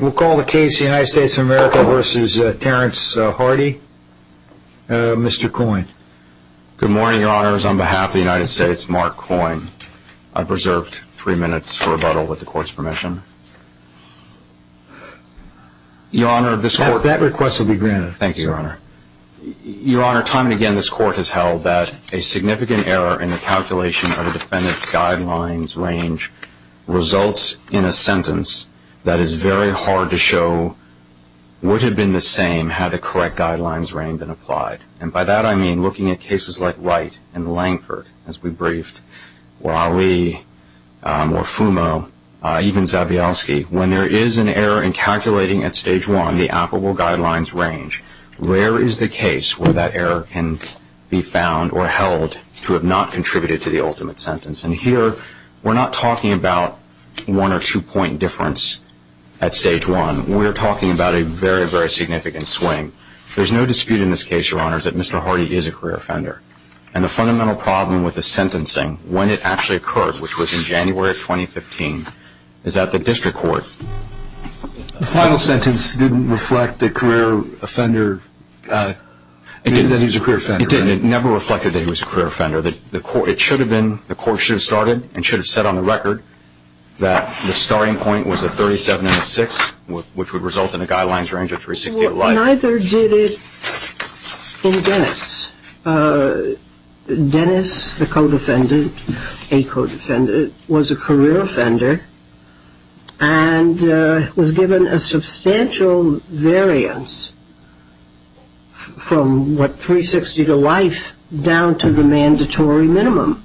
We'll call the case the United States of America v. Terrence Hardee. Mr. Coyne Good morning, your honors. On behalf of the United States, Mark Coyne, I've reserved three minutes for rebuttal with the court's permission. Your honor, this court That request will be granted. Thank you, your honor. Your honor, time and again, this court has held that a significant error in the calculation of the defendant's guidelines range results in a sentence that is very hard to show would have been the same had the correct guidelines range been applied. And by that I mean looking at cases like Wright and Langford, as we briefed, or Ali, or Fumo, even Zabioski. When there is an error in calculating at stage one the applicable guidelines range, where is the case where that error can be found or held to have not contributed to the ultimate sentence. And here, we're not talking about one or two point difference at stage one. We're talking about a very, very significant swing. There's no dispute in this case, your honors, that Mr. Hardee is a career offender. And the fundamental problem with the sentencing, when it actually occurred, which was in January of 2015, is that the district court The final sentence didn't reflect the career offender. It didn't reflect that he was a career offender. It never reflected that he was a career offender. It should have been, the court should have started and should have set on the record that the starting point was the 37 and the 6, which would result in a guidelines range of 368. Neither did it in Dennis. Dennis, the co-defendant, a co-defendant, was a career offender. And there was a substantial variance from what, 360 to life, down to the mandatory minimum.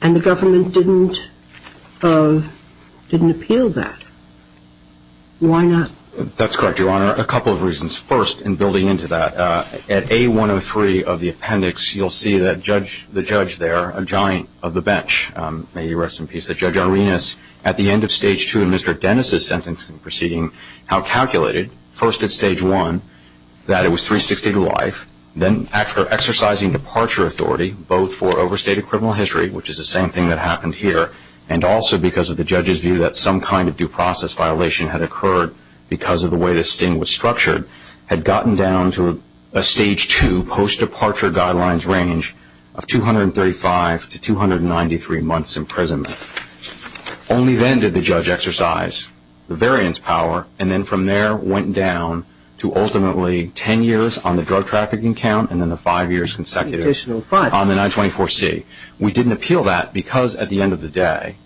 And the government didn't appeal that. Why not? That's correct, your honor. A couple of reasons. First, in building into that, at A103 of the appendix, you'll see that the judge there, a giant of the bench, may he rest in peace, that Judge Arenas, at the end of stage 2 of Mr. Dennis' sentencing proceeding, how calculated, first at stage 1, that it was 360 to life, then exercising departure authority, both for overstated criminal history, which is the same thing that happened here, and also because of the judge's view that some kind of due process violation had occurred because of the way the sting was structured, had gotten down to a stage 2 post-departure guidelines range of 235 to 293 months imprisonment. Only then did the judge exercise the variance power, and then from there went down to ultimately 10 years on the drug trafficking count, and then the 5 years consecutive on the 924C. We didn't appeal that because, at the end of the day,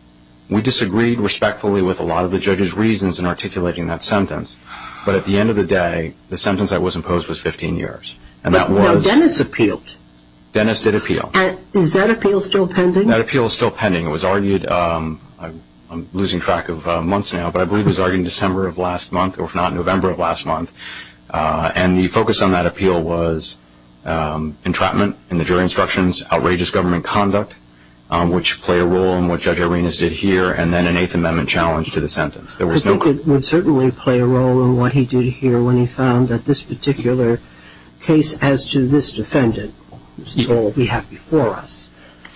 we disagreed respectfully with a lot of the judge's reasons in articulating that sentence. But at the end of the day, the sentence that was imposed was 15 years. But no, Dennis appealed. Dennis did appeal. Is that appeal still pending? That appeal is still pending. It was argued, I'm losing track of months now, but I believe it was argued in December of last month, if not November of last month, and the focus on that appeal was entrapment in the jury instructions, outrageous government conduct, which played a role in what Judge Arenas did here, and then an 8th Amendment challenge to the sentence. I think it would certainly play a role in what he did here when he found that this particular case as to this defendant, which is all we have before us,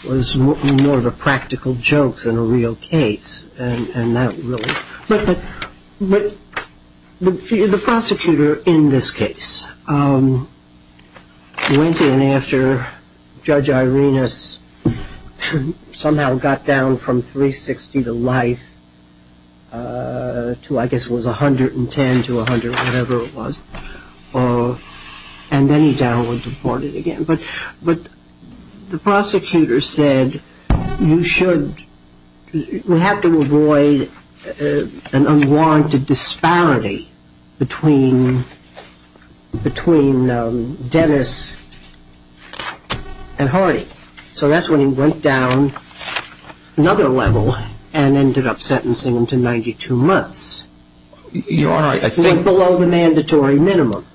was more of a practical joke than a real case. But the prosecutor in this case went in after Judge Arenas somehow got down from 360 to life to, I guess it was 110 to 100, whatever it was, and then he down and deported again. But the prosecutor said, you should, we have to avoid an unwarranted disparity between Dennis and Hardy. So that's when he went down and deported again. He went down to another level and ended up sentencing him to 92 months. Your Honor, I think... It went below the mandatory minimum.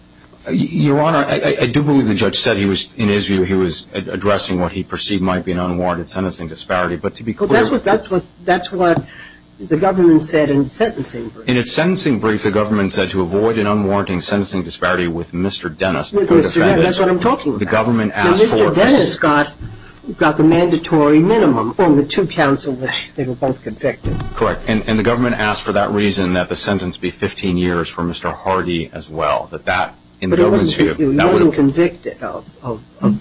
Your Honor, I do believe the judge said he was, in his view, he was addressing what he perceived might be an unwarranted sentencing disparity, but to be clear... That's what the government said in the sentencing brief. In its sentencing brief, the government said to avoid an unwarranted sentencing disparity with Mr. Dennis, the defendant... With Mr. Dennis, that's what I'm talking about. The government asked for... Got the mandatory minimum on the two counsels that they were both convicted. Correct. And the government asked for that reason, that the sentence be 15 years for Mr. Hardy as well. That that, in the government's view... But he wasn't convicted of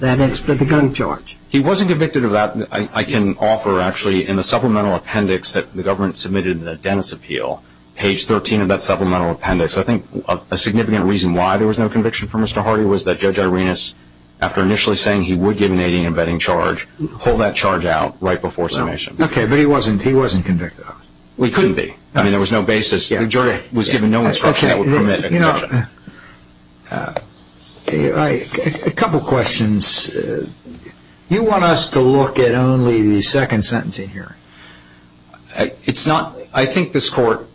that expedited gun charge. He wasn't convicted of that. I can offer, actually, in the supplemental appendix that the government submitted in the Dennis appeal, page 13 of that supplemental appendix, I think a significant reason why there was no conviction for Mr. Hardy was that Judge Arenas, after initially saying he would give an 18 and betting charge, pulled that charge out right before submission. Okay, but he wasn't convicted of it. We couldn't be. I mean, there was no basis. The jury was given no instruction that would permit a conviction. Okay, you know, a couple questions. You want us to look at only the second sentencing hearing. It's not... I think this court,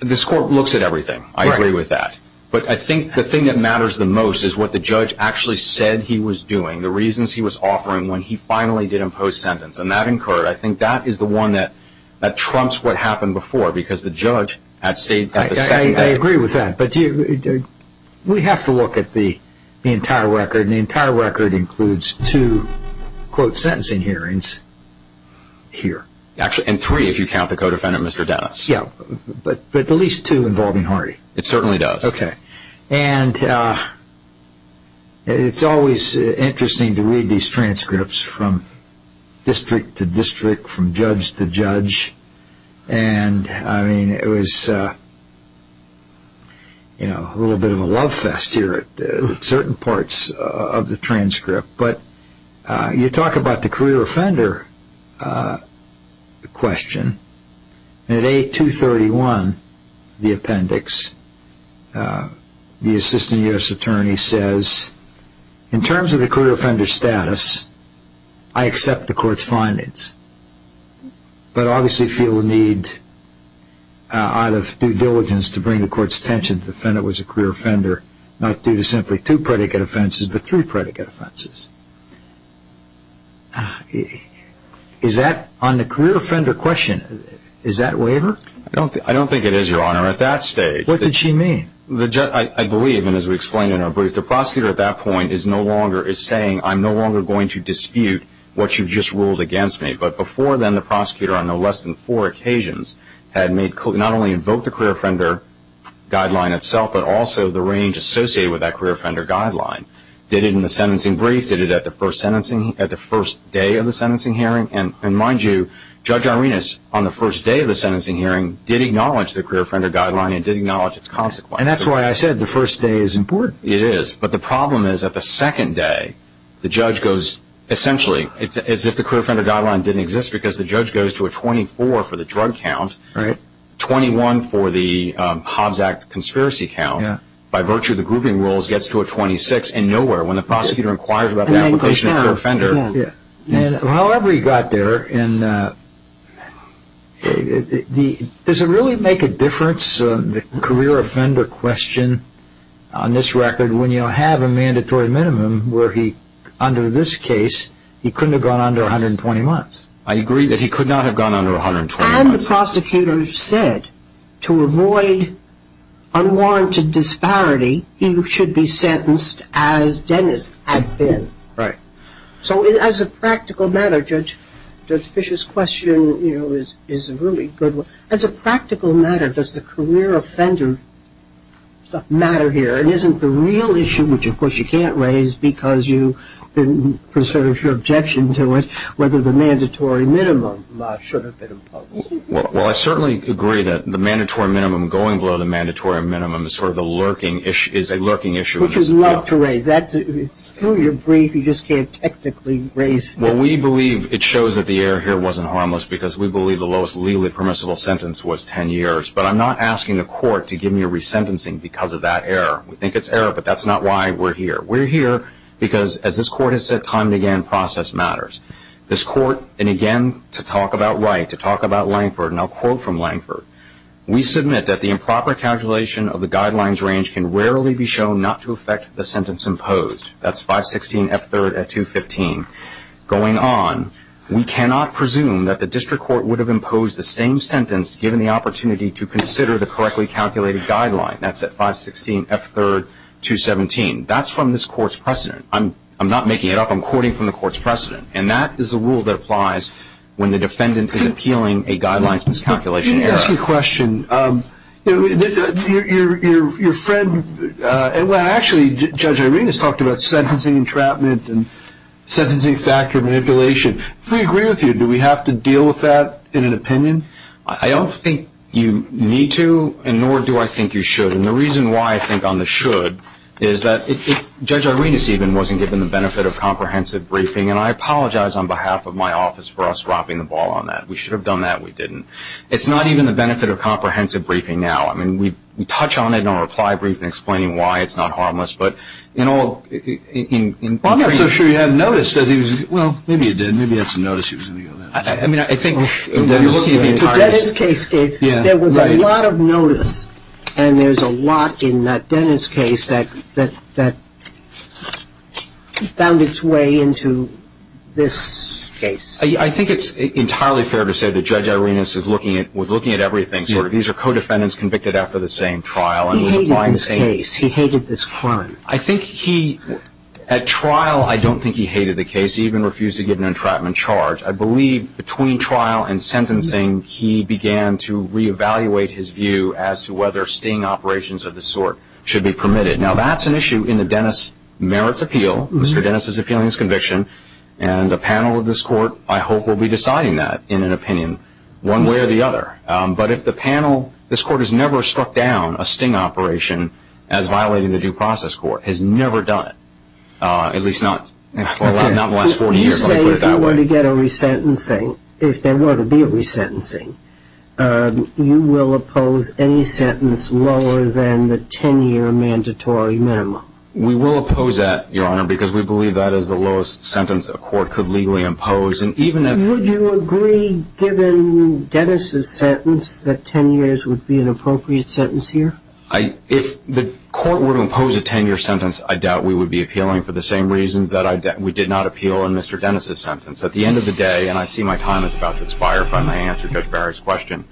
this court looks at everything. I agree with that. But I think the thing that matters the most is what the judge actually said he was doing, the reasons he was offering when he finally did impose sentence. And that, in court, I think that is the one that trumps what happened before, because the judge at the second hearing... I agree with that. But we have to look at the entire record, and the entire record includes two, quote, sentencing hearings here. And three, if you count the co-defendant, Mr. Dennis. Yeah, but at least two involving Hardy. It certainly does. Okay. And it's always interesting to read these transcripts from district to district, from judge to judge. And, I mean, it was, you know, a little bit of a love fest here at certain parts of the transcript. But you talk about the career offender question. And in A231, the appendix, the assistant U.S. attorney says, in terms of the career offender status, I accept the court's findings, but obviously feel the need out of due diligence to bring the court's attention to the fact that it was a career offender, not due to simply two predicate offenses, but three predicate offenses. Is that, on the career offender question, is that waiver? I don't think it is, Your Honor, at that stage. What did she mean? The judge, I believe, and as we explained in our brief, the prosecutor at that point is no longer, is saying, I'm no longer going to dispute what you just ruled against me. But before then, the prosecutor, on no less than four occasions, had made, not only invoked the career offender guideline itself, but also the range associated with that career offender guideline. Did it in the sentencing brief, did it at the first day of the sentencing hearing? And mind you, Judge Arenas, on the first day of the sentencing hearing, did acknowledge the career offender guideline and did acknowledge its consequences. And that's why I said the first day is important. It is, but the problem is that the second day, the judge goes, essentially, as if the career offender guideline didn't exist, because the judge goes to a 24 for the drug count, 21 for the Hobbs Act conspiracy count, by virtue of the grouping rules, gets to a 26 and nowhere. When the prosecutor inquires about the application of the career offender. And however he got there, does it really make a difference, the career offender question, on this record, when you have a mandatory minimum, where he, under this case, he couldn't have gone under 120 months? I agree that he could not have gone under 120 months. And the prosecutor said, to avoid unwarranted disparity, he should be sentenced as Dennis had been. Right. So, as a practical matter, Judge Fish's question is a really good one. As a practical matter, does the career offender matter here? And isn't the real issue, which, of course, you can't raise because you preserve your objection to it, whether the mandatory minimum law should have been imposed? Well, I certainly agree that the mandatory minimum, going below the mandatory minimum is sort of a lurking issue, is a lurking issue. Which is not to raise. Through your brief, you just can't technically raise. Well, we believe it shows that the error here wasn't harmless because we believe the lowest legally permissible sentence was 10 years. But I'm not asking the court to give me a resentencing because of that error. We think it's error, but that's not why we're here. We're here because, as this court has said time and again, process matters. This court, and again, to talk about Wright, to talk about Langford, and I'll quote from Langford, we submit that the improper calculation of the guidelines range can rarely be shown not to affect the sentence imposed. That's 516 F3rd at 215. Going on, we cannot presume that the district court would have imposed the same sentence given the opportunity to consider the correctly calculated guideline. That's at 516 F3rd 217. That's from this court's precedent. I'm not making it up. I'm quoting from the court's precedent. And that is a rule that applies when the defendant is appealing a guidelines miscalculation error. Let me ask you a question. Your friend, well, actually, Judge Irenas talked about sentencing entrapment and sentencing factor manipulation. If we agree with you, do we have to deal with that in an opinion? I don't think you need to, and nor do I think you should. And the reason why I think on the should is that Judge Irenas even wasn't given the benefit of comprehensive briefing, and I apologize on behalf of my office for us dropping the ball on that. We should have on that. We didn't. It's not even the benefit of comprehensive briefing now. I mean, we touch on it in our reply brief in explaining why it's not harmless, but in all, in Well, I'm not so sure you had noticed that he was, well, maybe you did. Maybe you had some notice that he was going to go there. I mean, I think In Dennis' case, there was a lot of notice, and there's a lot in Dennis' case that found its way into this case. I think it's entirely fair to say that Judge Irenas was looking at everything. These are co-defendants convicted after the same trial and was applying the same He hated this case. He hated this crime. I think he, at trial, I don't think he hated the case. He even refused to give an entrapment charge. I believe between trial and sentencing, he began to reevaluate his view as to whether sting operations of the sort should be permitted. Now, that's an issue in the Dennis merits appeal, Mr. Dennis' appeal and his conviction, and a panel of this court, I hope, will be deciding that in an opinion one way or the other. But if the panel, this court has never struck down a sting operation as violating the due process court, has never done it, at least not in the last 40 years, let me put it that way. Say if you were to get a resentencing, if there were to be a resentencing, you will oppose any sentence lower than the 10-year mandatory minimum. We will oppose that, Your Honor, because we believe that is the lowest sentence a court could legally impose. Would you agree, given Dennis' sentence, that 10 years would be an appropriate sentence here? If the court were to impose a 10-year sentence, I doubt we would be appealing for the same reasons that we did not appeal in Mr. Dennis' sentence. At the end of the day, and I see my time is about to expire if I may answer Judge Barry's question,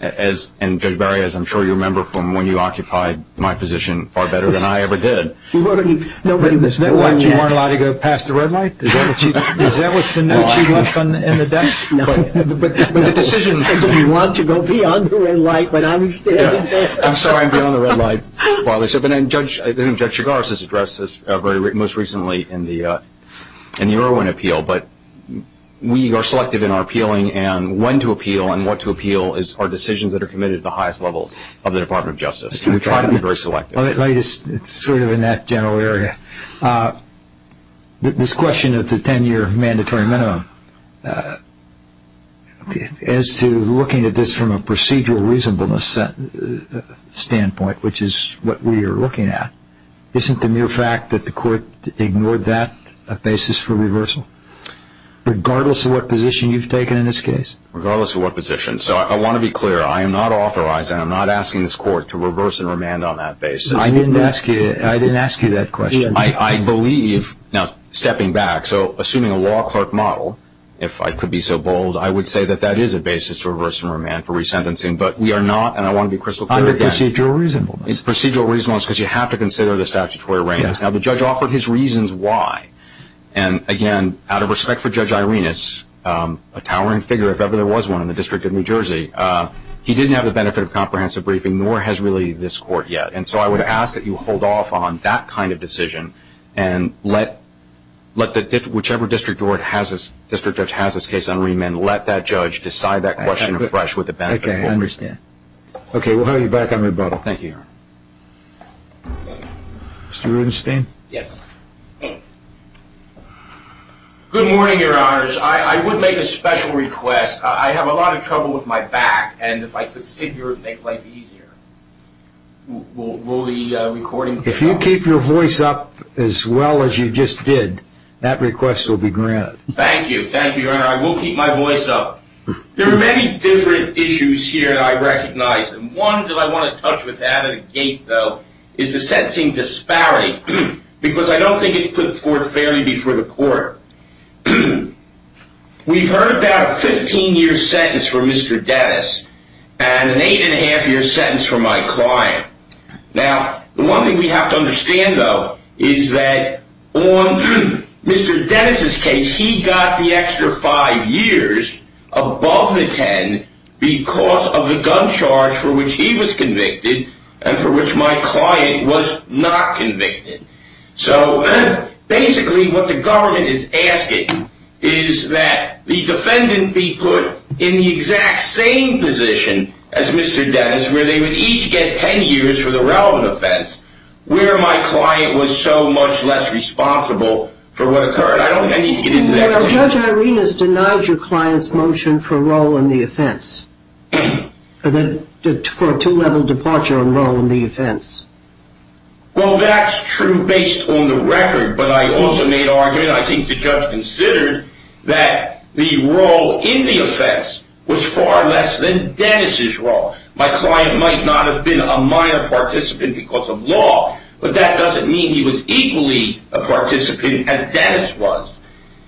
and Judge Barry, as I'm sure you remember from when you occupied my position far better than I ever did. You weren't allowed to go past the red light? Is that what you left on the end of the desk? No. But the decision I didn't want to go beyond the red light, but I'm standing there. I'm sorry I'm beyond the red light, Barley, but Judge Chigars has addressed this most recently in the Irwin appeal, but we are selective in our appealing, and when to appeal and what to appeal are decisions that are committed at the highest levels of the Department of Justice. We try to be very selective. It's sort of in that general area. This question of the 10-year mandatory minimum, as to looking at this from a procedural reasonableness standpoint, which is what we are looking at, isn't the mere fact that the court ignored that a basis for reversal? Regardless of what position you've taken in this case? Regardless of what position. So I want to be clear. I am not authorizing, I'm not asking this court to reverse and remand on that basis. I didn't ask you that question. I believe, now stepping back, so assuming a law clerk model, if I could be so bold, I would say that that is a basis to reverse and remand for resentencing, but we are not, and I want to be crystal clear again. Under procedural reasonableness. Procedural reasonableness, because you have to consider the statutory arraignments. Now the judge offered his reasons why, and again, out of respect for Judge Irenas, a towering figure, if ever there was one in the District of New Jersey, he didn't have the benefit of comprehensive briefing, nor has really this court yet. And so I would ask that you hold off on that kind of decision, and let whichever district judge has this case on remand, let that judge decide that question afresh with the benefit of comprehensive. Okay, I understand. Okay, we'll have you back on rebuttal. Thank you, Your Honor. Mr. Rubenstein? Yes. Good morning, Your Honors. I would make a special request. I have a lot of trouble with my back, and if I could sit here, it would make life easier. Will the recording... If you keep your voice up as well as you just did, that request will be granted. Thank you. Thank you, Your Honor. I will keep my voice up. There are many different issues here that I recognize, and one that I want to touch with at a gait, though, is the sensing disparity, because I don't think it's put forth fairly before the court. We've heard about a 15-year sentence for Mr. Dennis, and an eight-and-a-half-year sentence for my client. Now, the one thing we have to understand, though, is that on Mr. Dennis's case, he got the extra five years above the 10 because of the gun charge for which he was convicted and for which my client was not convicted. So, basically, what the government is asking is that the defendant be put in the exact same position as Mr. Dennis, where they would each get 10 years for the relevant offense, where my client was so much less responsible for what occurred. I don't think I need to get into that. Well, Judge Irenas denied your client's motion for a role in the offense, for a two-level departure on role in the offense. Well, that's true based on the record, but I also made an argument. I think the judge considered that the role in the offense was far less than Dennis's role. My client might not have been a minor participant because of law, but that doesn't mean he was equally a participant as Dennis was.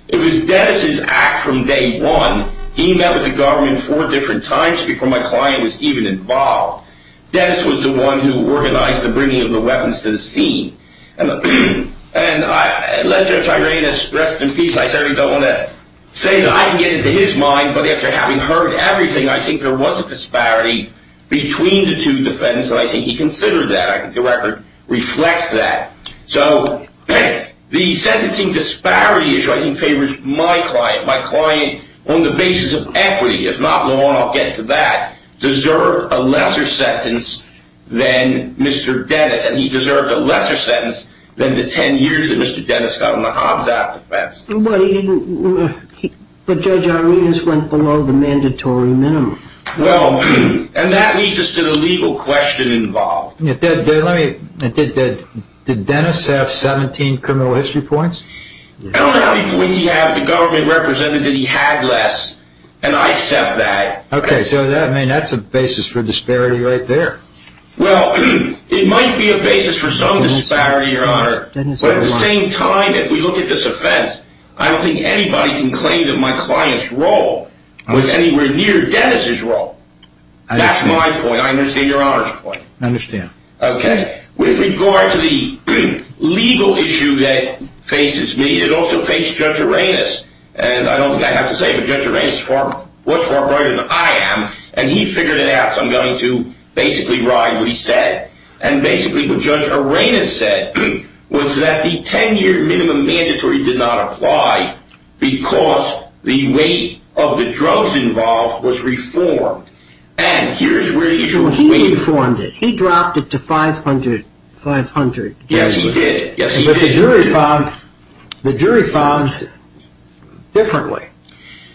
It was Dennis's act from day one. He met with the government four different times before my client was even involved. Dennis was the one who organized the bringing of the weapons to the scene. And let Judge Irenas rest in peace. I certainly don't want to say that I can get into his mind, but after having heard everything, I think there was a disparity between the two defendants, and I think he considered that. I think the record reflects that. So the sentencing disparity is what I think favors my client. My client, on the basis of equity, if not law, and I'll get to that, deserved a lesser sentence than Mr. Dennis, and he deserved a lesser sentence than the 10 years that Mr. Dennis got on the Hobbs Act offense. But Judge Irenas went below the mandatory minimum. Well, and that leads us to the legal question involved. Did Dennis have 17 criminal history points? I don't know how many points he had. The government represented that he had less, and I accept that. Okay, so that's a basis for disparity right there. Well, it might be a basis for some disparity, Your Honor. But at the same time, if we look at this offense, I don't think anybody can claim that my client's role was anywhere near Dennis's role. That's my point, I understand Your Honor's point. I understand. Okay. With regard to the legal issue that faces me, it also faced Judge Irenas, and I don't think I have to say it, but Judge Irenas is far, much far brighter than I am, and he figured it out, so I'm going to basically ride what he said. And basically what Judge Irenas said was that the 10-year minimum mandatory did not apply because the weight of the drugs involved was reformed. He reformed it. He dropped it to 500. Yes, he did. But the jury found differently.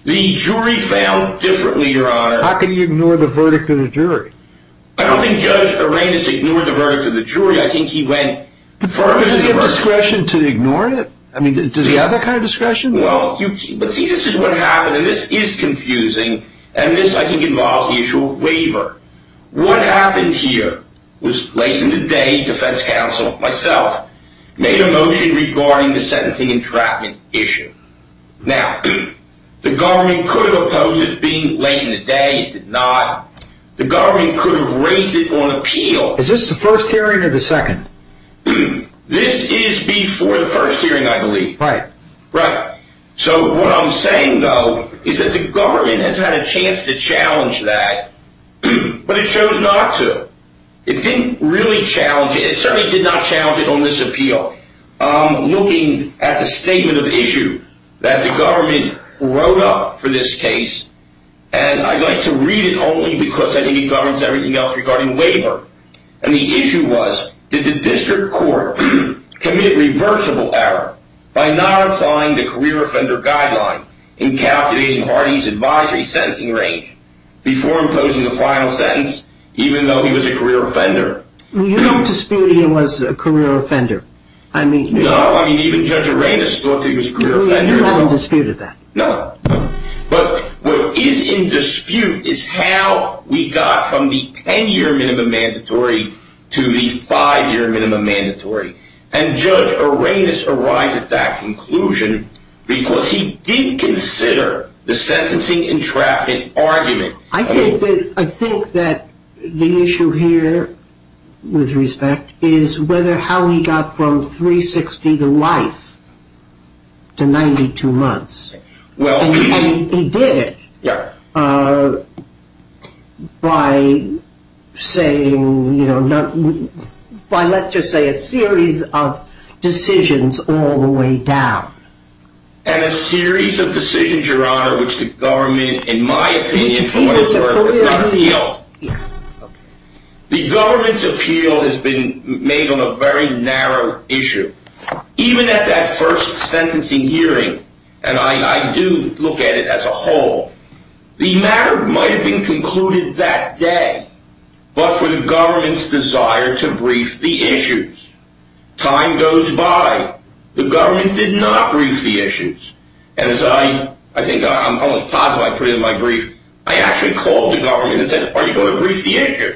The jury found differently, Your Honor. How can you ignore the verdict of the jury? I don't think Judge Irenas ignored the verdict of the jury. I think he went further. Does he have discretion to ignore it? I mean, does he have that kind of discretion? Well, you see, this is what happened, and this is confusing, and this I think involves the issue of waiver. What happened here was late in the day, defense counsel, myself, made a motion regarding the sentencing entrapment issue. Now, the government could have opposed it being late in the day. It did not. The government could have raised it on appeal. Is this the first hearing or the second? This is before the first hearing, I believe. Right. Right. So what I'm saying, though, is that the government has had a chance to challenge that, but it chose not to. It didn't really challenge it. It certainly did not challenge it on this appeal. I'm looking at the statement of issue that the government wrote up for this case, and I'd like to read it only because I think it governs everything else regarding And the issue was, did the district court commit reversible error by not applying the career offender guideline in calculating Hardee's advisory sentencing range before imposing the final sentence, even though he was a career offender? Well, you don't dispute he was a career offender. No, I mean, even Judge Aranis thought he was a career offender. Well, you haven't disputed that. No. But what is in dispute is how we got from the 10-year minimum mandatory to the five-year minimum mandatory. And Judge Aranis arrived at that conclusion because he did consider the sentencing entrapment argument. I think that the issue here, with respect, is whether how he got from 360 to life to 92 months. And he did it by, let's just say, a series of decisions all the way down. And a series of decisions, Your Honor, which the government, in my opinion, for whatever reason, has not appealed. The government's appeal has been made on a very narrow issue. Even at that first sentencing hearing, and I do look at it as a whole, the matter might have been concluded that day, but for the government's desire to brief the issues. Time goes by. The government did not brief the issues. And as I think I'm almost positive I put it in my brief, I actually called the government and said, are you going to brief the issue?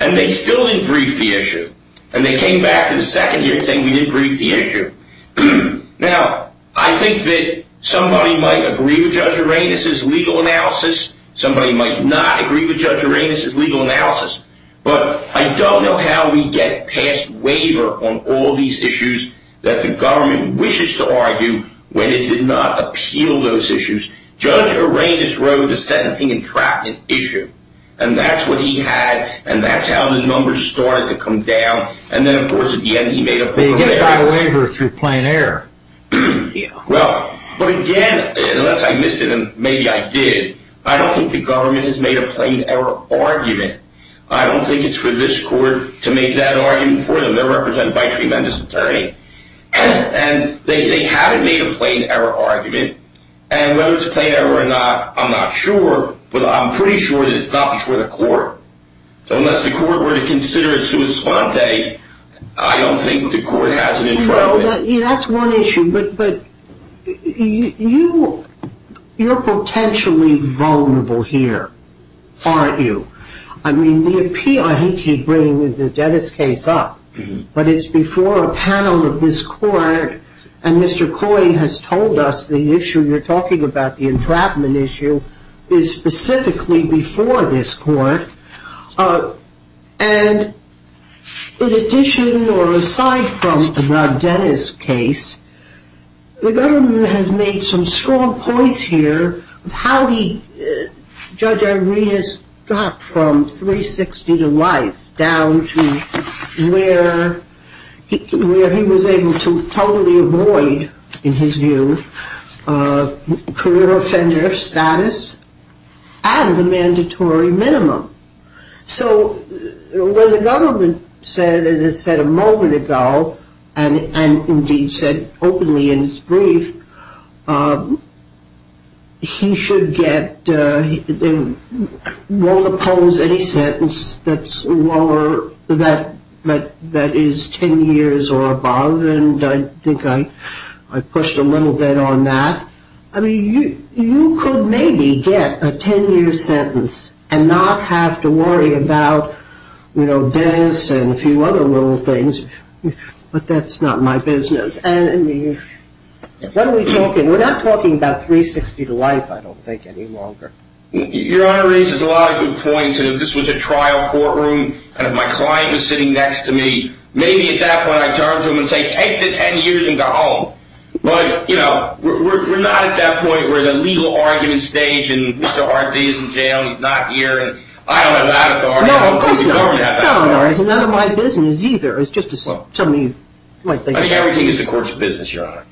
And they still didn't brief the issue. And they came back to the second-year thing, we didn't brief the issue. Now, I think that somebody might agree with Judge Aranis' legal analysis, somebody might not agree with Judge Aranis' legal analysis, but I don't know how we get past waiver on all these issues that the government wishes to argue when it did not appeal those issues. Judge Aranis wrote the sentencing entrapment issue, and that's what he had, and that's how the numbers started to come down, and then of course at the end he made a waiver. But he got a waiver through plain error. Well, but again, unless I missed it, and maybe I did, I don't think the government has made a plain error argument. I don't think it's for this court to make that argument for them. They're represented by a tremendous attorney, and they haven't made a plain error argument. And whether it's a plain error or not, I'm not sure, but I'm pretty sure that it's not for the court. So unless the court were to consider it sui sponte, I don't think the court has an interest in it. Well, that's one issue, but you're potentially vulnerable here, aren't you? I mean, the appeal, I hate to keep bringing the Dennis case up, but it's before a panel of this court, and Mr. Coy has told us the issue you're talking about, the entrapment issue, is specifically before this court. And in addition, or aside from the Dennis case, the government has made some strong points here of how Judge Arenas got from 360 to life down to where he was able to totally avoid, in his view, career offender status and the mandatory minimum. So where the government said, as it said a moment ago, and indeed said openly in its brief, he should get, won't oppose any sentence that's lower, that is 10 years or above, and I think I pushed a little bit on that. I mean, you could maybe get a 10-year sentence and not have to worry about Dennis and a few other little things, but that's not my business. What are we talking? We're not talking about 360 to life, I don't think, any longer. Your Honor raises a lot of good points, and if this was a trial courtroom and if my client was sitting next to me, maybe at that point I'd turn to him and say, take the 10 years and go home. But, you know, we're not at that point where the legal argument stage and Mr. Arte is in jail, he's not here, and I don't have that authority. No, of course not. It's none of my business either. It's just to tell me my thing. I think everything is the court's business, Your Honor.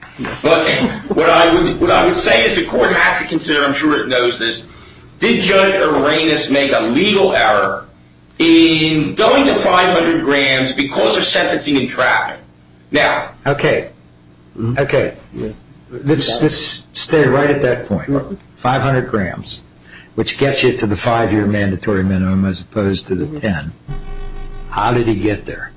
But what I would say is the court has to consider, I'm sure it knows this, did Judge Arenas make a legal error in going to 500 grams because of sentencing and traffic? Okay, let's stay right at that point. 500 grams, which gets you to the 5-year mandatory minimum as opposed to the 10. How did he get there?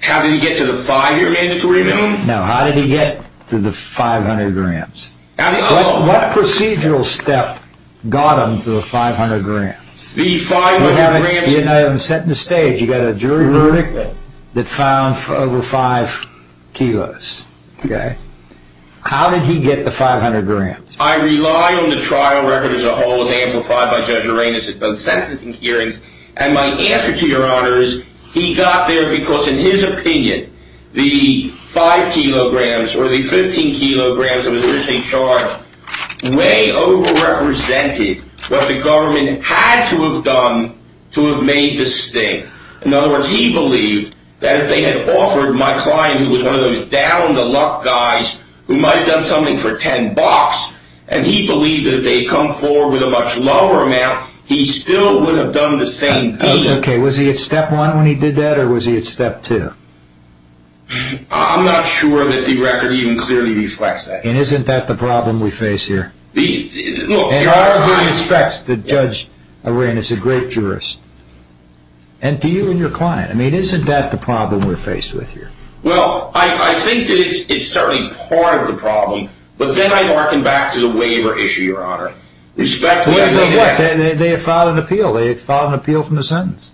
How did he get to the 5-year mandatory minimum? Now, how did he get to the 500 grams? What procedural step got him to the 500 grams? You know, I haven't set the stage. You've got a jury verdict that found over 5 kilos, okay? How did he get the 500 grams? I rely on the trial record as a whole as amplified by Judge Arenas at both sentencing hearings, and my answer to Your Honor is he got there because, in his opinion, the 5 kilograms or the 15 kilograms that was originally charged way over-represented what the government had to have done to have made this thing. In other words, he believed that if they had offered my client, who was one of those down-to-luck guys who might have done something for 10 bucks, and he believed that if they had come forward with a much lower amount, he still would have done the same thing. Okay, was he at Step 1 when he did that, or was he at Step 2? I'm not sure that the record even clearly reflects that. And isn't that the problem we face here? Your Honor, he respects Judge Arenas, a great jurist. And do you and your client? I mean, isn't that the problem we're faced with here? Well, I think that it's certainly part of the problem, but then I'd hearken back to the waiver issue, Your Honor. They have filed an appeal. They have filed an appeal from the sentence.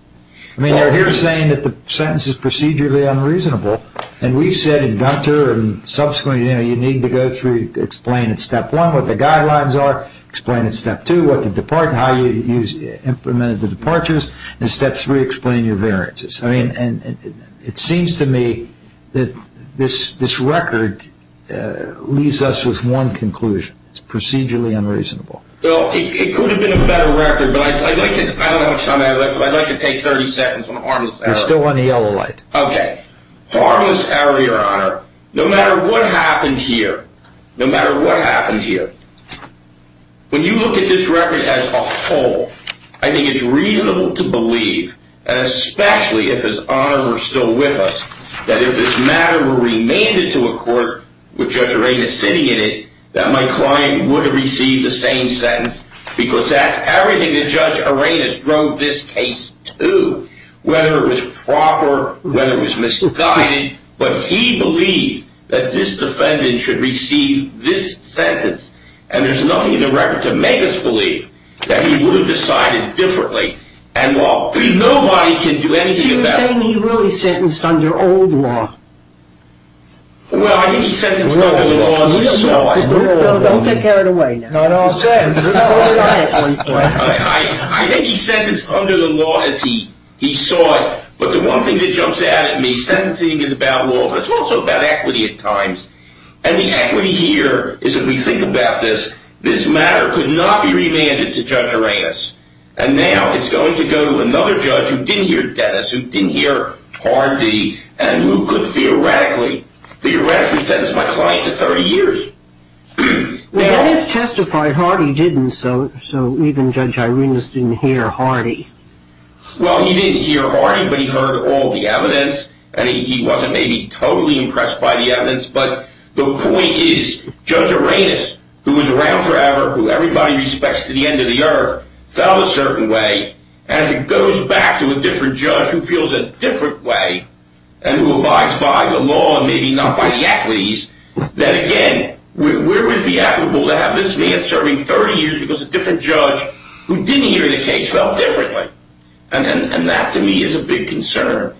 I mean, you're here saying that the sentence is procedurally unreasonable, and we've said in Gunter and subsequently, you know, you need to go through, explain at Step 1 what the guidelines are, explain at Step 2 how you implemented the departures, and Step 3, explain your variances. I mean, it seems to me that this record leaves us with one conclusion. It's procedurally unreasonable. Well, it could have been a better record, but I'd like to, I don't know how much time I have left, but I'd like to take 30 seconds on a harmless error. You're still on the yellow light. Okay. Harmless error, Your Honor, no matter what happened here, no matter what happened here, when you look at this record as a whole, I think it's reasonable to believe, and especially if His Honors are still with us, that if this matter were remanded to a court with Judge Arenas sitting in it, that my client would have received the same sentence, because that's everything that Judge Arenas drove this case to, whether it was proper, whether it was misguided, but he believed that this defendant should receive this sentence, and there's nothing in the record to make us believe that he would have decided differently, and while nobody can do anything about it. So you're saying he really sentenced under old law? Well, I think he sentenced under the law as he saw it. Don't take Eric away now. I think he sentenced under the law as he saw it, but the one thing that jumps out at me, sentencing is about law, but it's also about equity at times, and the equity here is that we think about this, this matter could not be remanded to Judge Arenas, and now it's going to go to another judge who didn't hear Dennis, who didn't hear Hardy, and who could theoretically sentence my client to 30 years. Well, Dennis testified, Hardy didn't, so even Judge Arenas didn't hear Hardy. Well, he didn't hear Hardy, but he heard all the evidence, and he wasn't maybe totally impressed by the evidence, but the point is Judge Arenas, who was around forever, who everybody respects to the end of the earth, felt a certain way, and it goes back to a different judge who feels a different way, and who abides by the law, maybe not by the equities, that again, where would it be equitable to have this man serving 30 years because a different judge who didn't hear the case felt differently? And that to me is a big concern.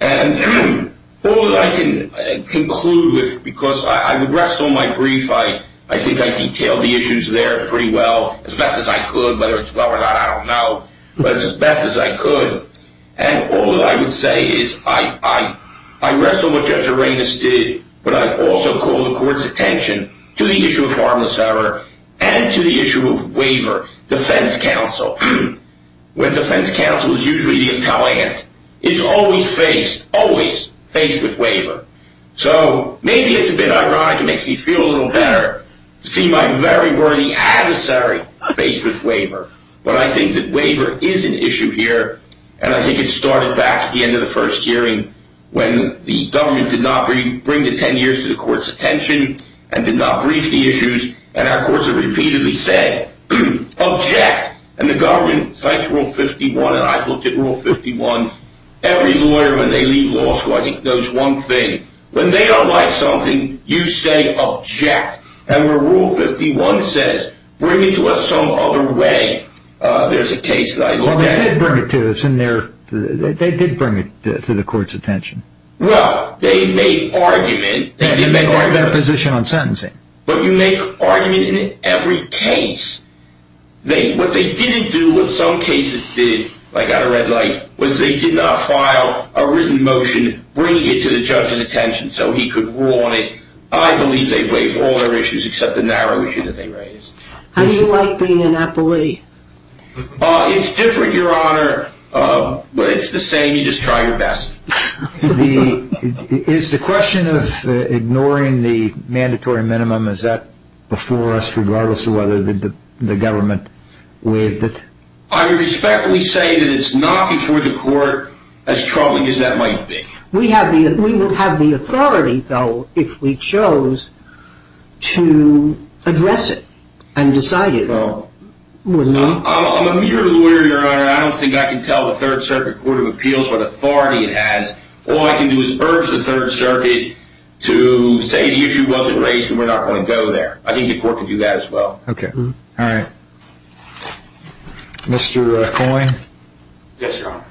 And all that I can conclude with, because I would rest on my brief, I think I detailed the issues there pretty well, as best as I could. Whether it's well or not, I don't know, but it's as best as I could. And all that I would say is I rest on what Judge Arenas did, but I also call the court's attention to the issue of harmless error and to the issue of waiver. Defense counsel, where defense counsel is usually the appellant, is always faced, always faced with waiver. So maybe it's a bit ironic, it makes me feel a little better to see my very worthy adversary faced with waiver. But I think that waiver is an issue here, and I think it started back at the end of the first hearing when the government did not bring the 10 years to the court's attention and did not brief the issues, and our courts have repeatedly said, object. And the government, since Rule 51, and I've looked at Rule 51, every lawyer when they leave law school, I think, knows one thing. When they don't like something, you say, object. And where Rule 51 says, bring it to us some other way, there's a case that I look at. Well, they did bring it to us, and they did bring it to the court's attention. Well, they made argument. They did make argument. They did make argument of their position on sentencing. But you make argument in every case. What they didn't do, what some cases did, I got a red light, was they did not file a written motion bringing it to the judge's attention so he could rule on it. I believe they waived all their issues except the narrow issue that they raised. How do you like being an appellee? It's different, Your Honor. It's the same, you just try your best. Is the question of ignoring the mandatory minimum, is that before us regardless of whether the government waived it? I respectfully say that it's not before the court as troubling as that might be. We would have the authority, though, if we chose to address it and decide it. I'm a mere lawyer, Your Honor. I don't think I can tell the Third Circuit Court of Appeals what authority it has. All I can do is urge the Third Circuit to say the issue wasn't raised and we're not going to go there. I think the court can do that as well. Okay. All right. Mr. Coyne? Yes, Your Honor.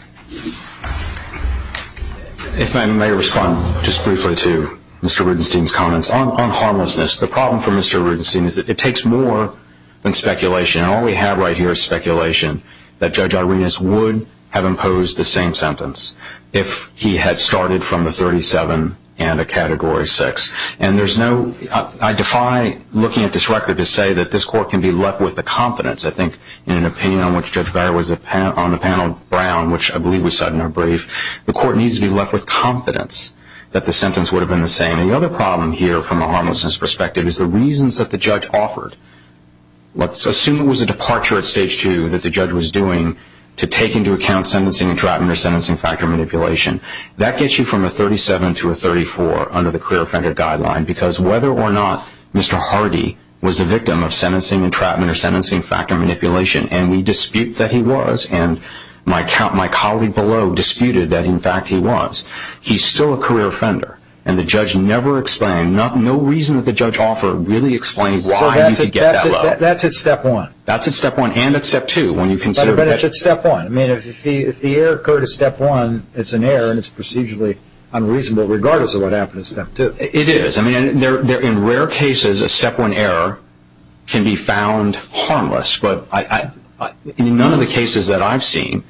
If I may respond just briefly to Mr. Rudenstine's comments on harmlessness. The problem for Mr. Rudenstine is that it takes more than speculation, and all we have right here is speculation that Judge Arenas would have imposed the same sentence if he had started from the 37 and a Category 6. I defy looking at this record to say that this court can be left with the confidence. I think in an opinion on which Judge Beyer was on the panel, Brown, which I believe was said in her brief, the court needs to be left with confidence that the sentence would have been the same. The other problem here from a harmlessness perspective is the reasons that the judge offered. Let's assume it was a departure at Stage 2 that the judge was doing to take into account sentencing entrapment or sentencing factor manipulation. That gets you from a 37 to a 34 under the career offender guideline, because whether or not Mr. Hardy was the victim of sentencing entrapment or sentencing factor manipulation, and we dispute that he was, and my colleague below disputed that, in fact, he was, he's still a career offender, and the judge never explained, no reason that the judge offered really explained why he could get that low. That's at Step 1. That's at Step 1 and at Step 2. But it's at Step 1. I mean, if the error occurred at Step 1, it's an error, and it's procedurally unreasonable regardless of what happened at Step 2. It is. I mean, in rare cases, a Step 1 error can be found harmless, but in none of the cases that I've seen,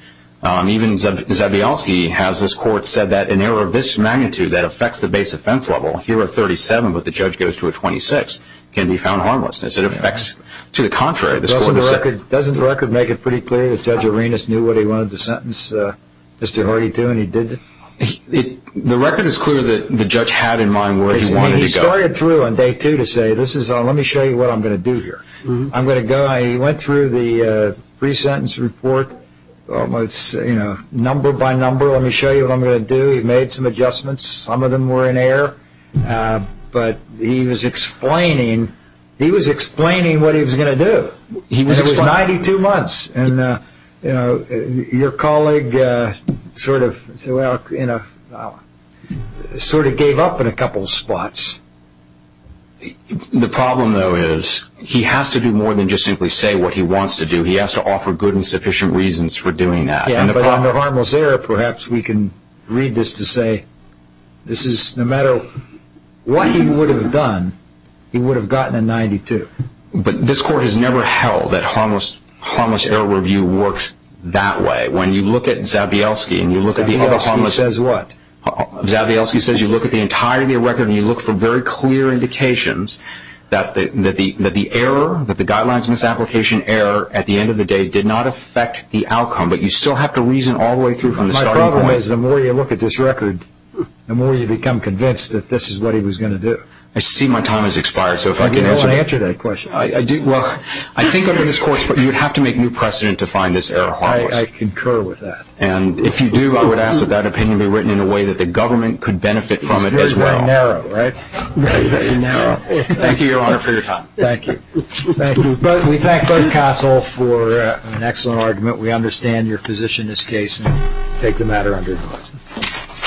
even Zabialski has this court said that an error of this magnitude that affects the base offense level, here at 37, but the judge goes to a 26, can be found harmless. It affects to the contrary. Doesn't the record make it pretty clear that Judge Arenas knew what he wanted to sentence Mr. Hardy to, and he did? The record is clear that the judge had in mind where he wanted to go. He started through on Day 2 to say, let me show you what I'm going to do here. I'm going to go, he went through the pre-sentence report, almost number by number, let me show you what I'm going to do. He made some adjustments. Some of them were in error. But he was explaining what he was going to do. It was 92 months, and your colleague sort of gave up in a couple of spots. The problem, though, is he has to do more than just simply say what he wants to do. He has to offer good and sufficient reasons for doing that. But under harmless error, perhaps we can read this to say, no matter what he would have done, he would have gotten a 92. But this Court has never held that harmless error review works that way. When you look at Zabielski, and you look at the entire record, and you look for very clear indications that the error, that the guidelines misapplication error, My problem is the more you look at this record, the more you become convinced that this is what he was going to do. I see my time has expired, so if I can answer that. You don't want to answer that question. Well, I think under this Court, you would have to make new precedent to find this error harmless. I concur with that. And if you do, I would ask that that opinion be written in a way that the government could benefit from it as well. It's very, very narrow, right? Thank you, Your Honor, for your time. Thank you. Thank you. We thank both counsel for an excellent argument. We understand your position in this case, and take the matter under advisement.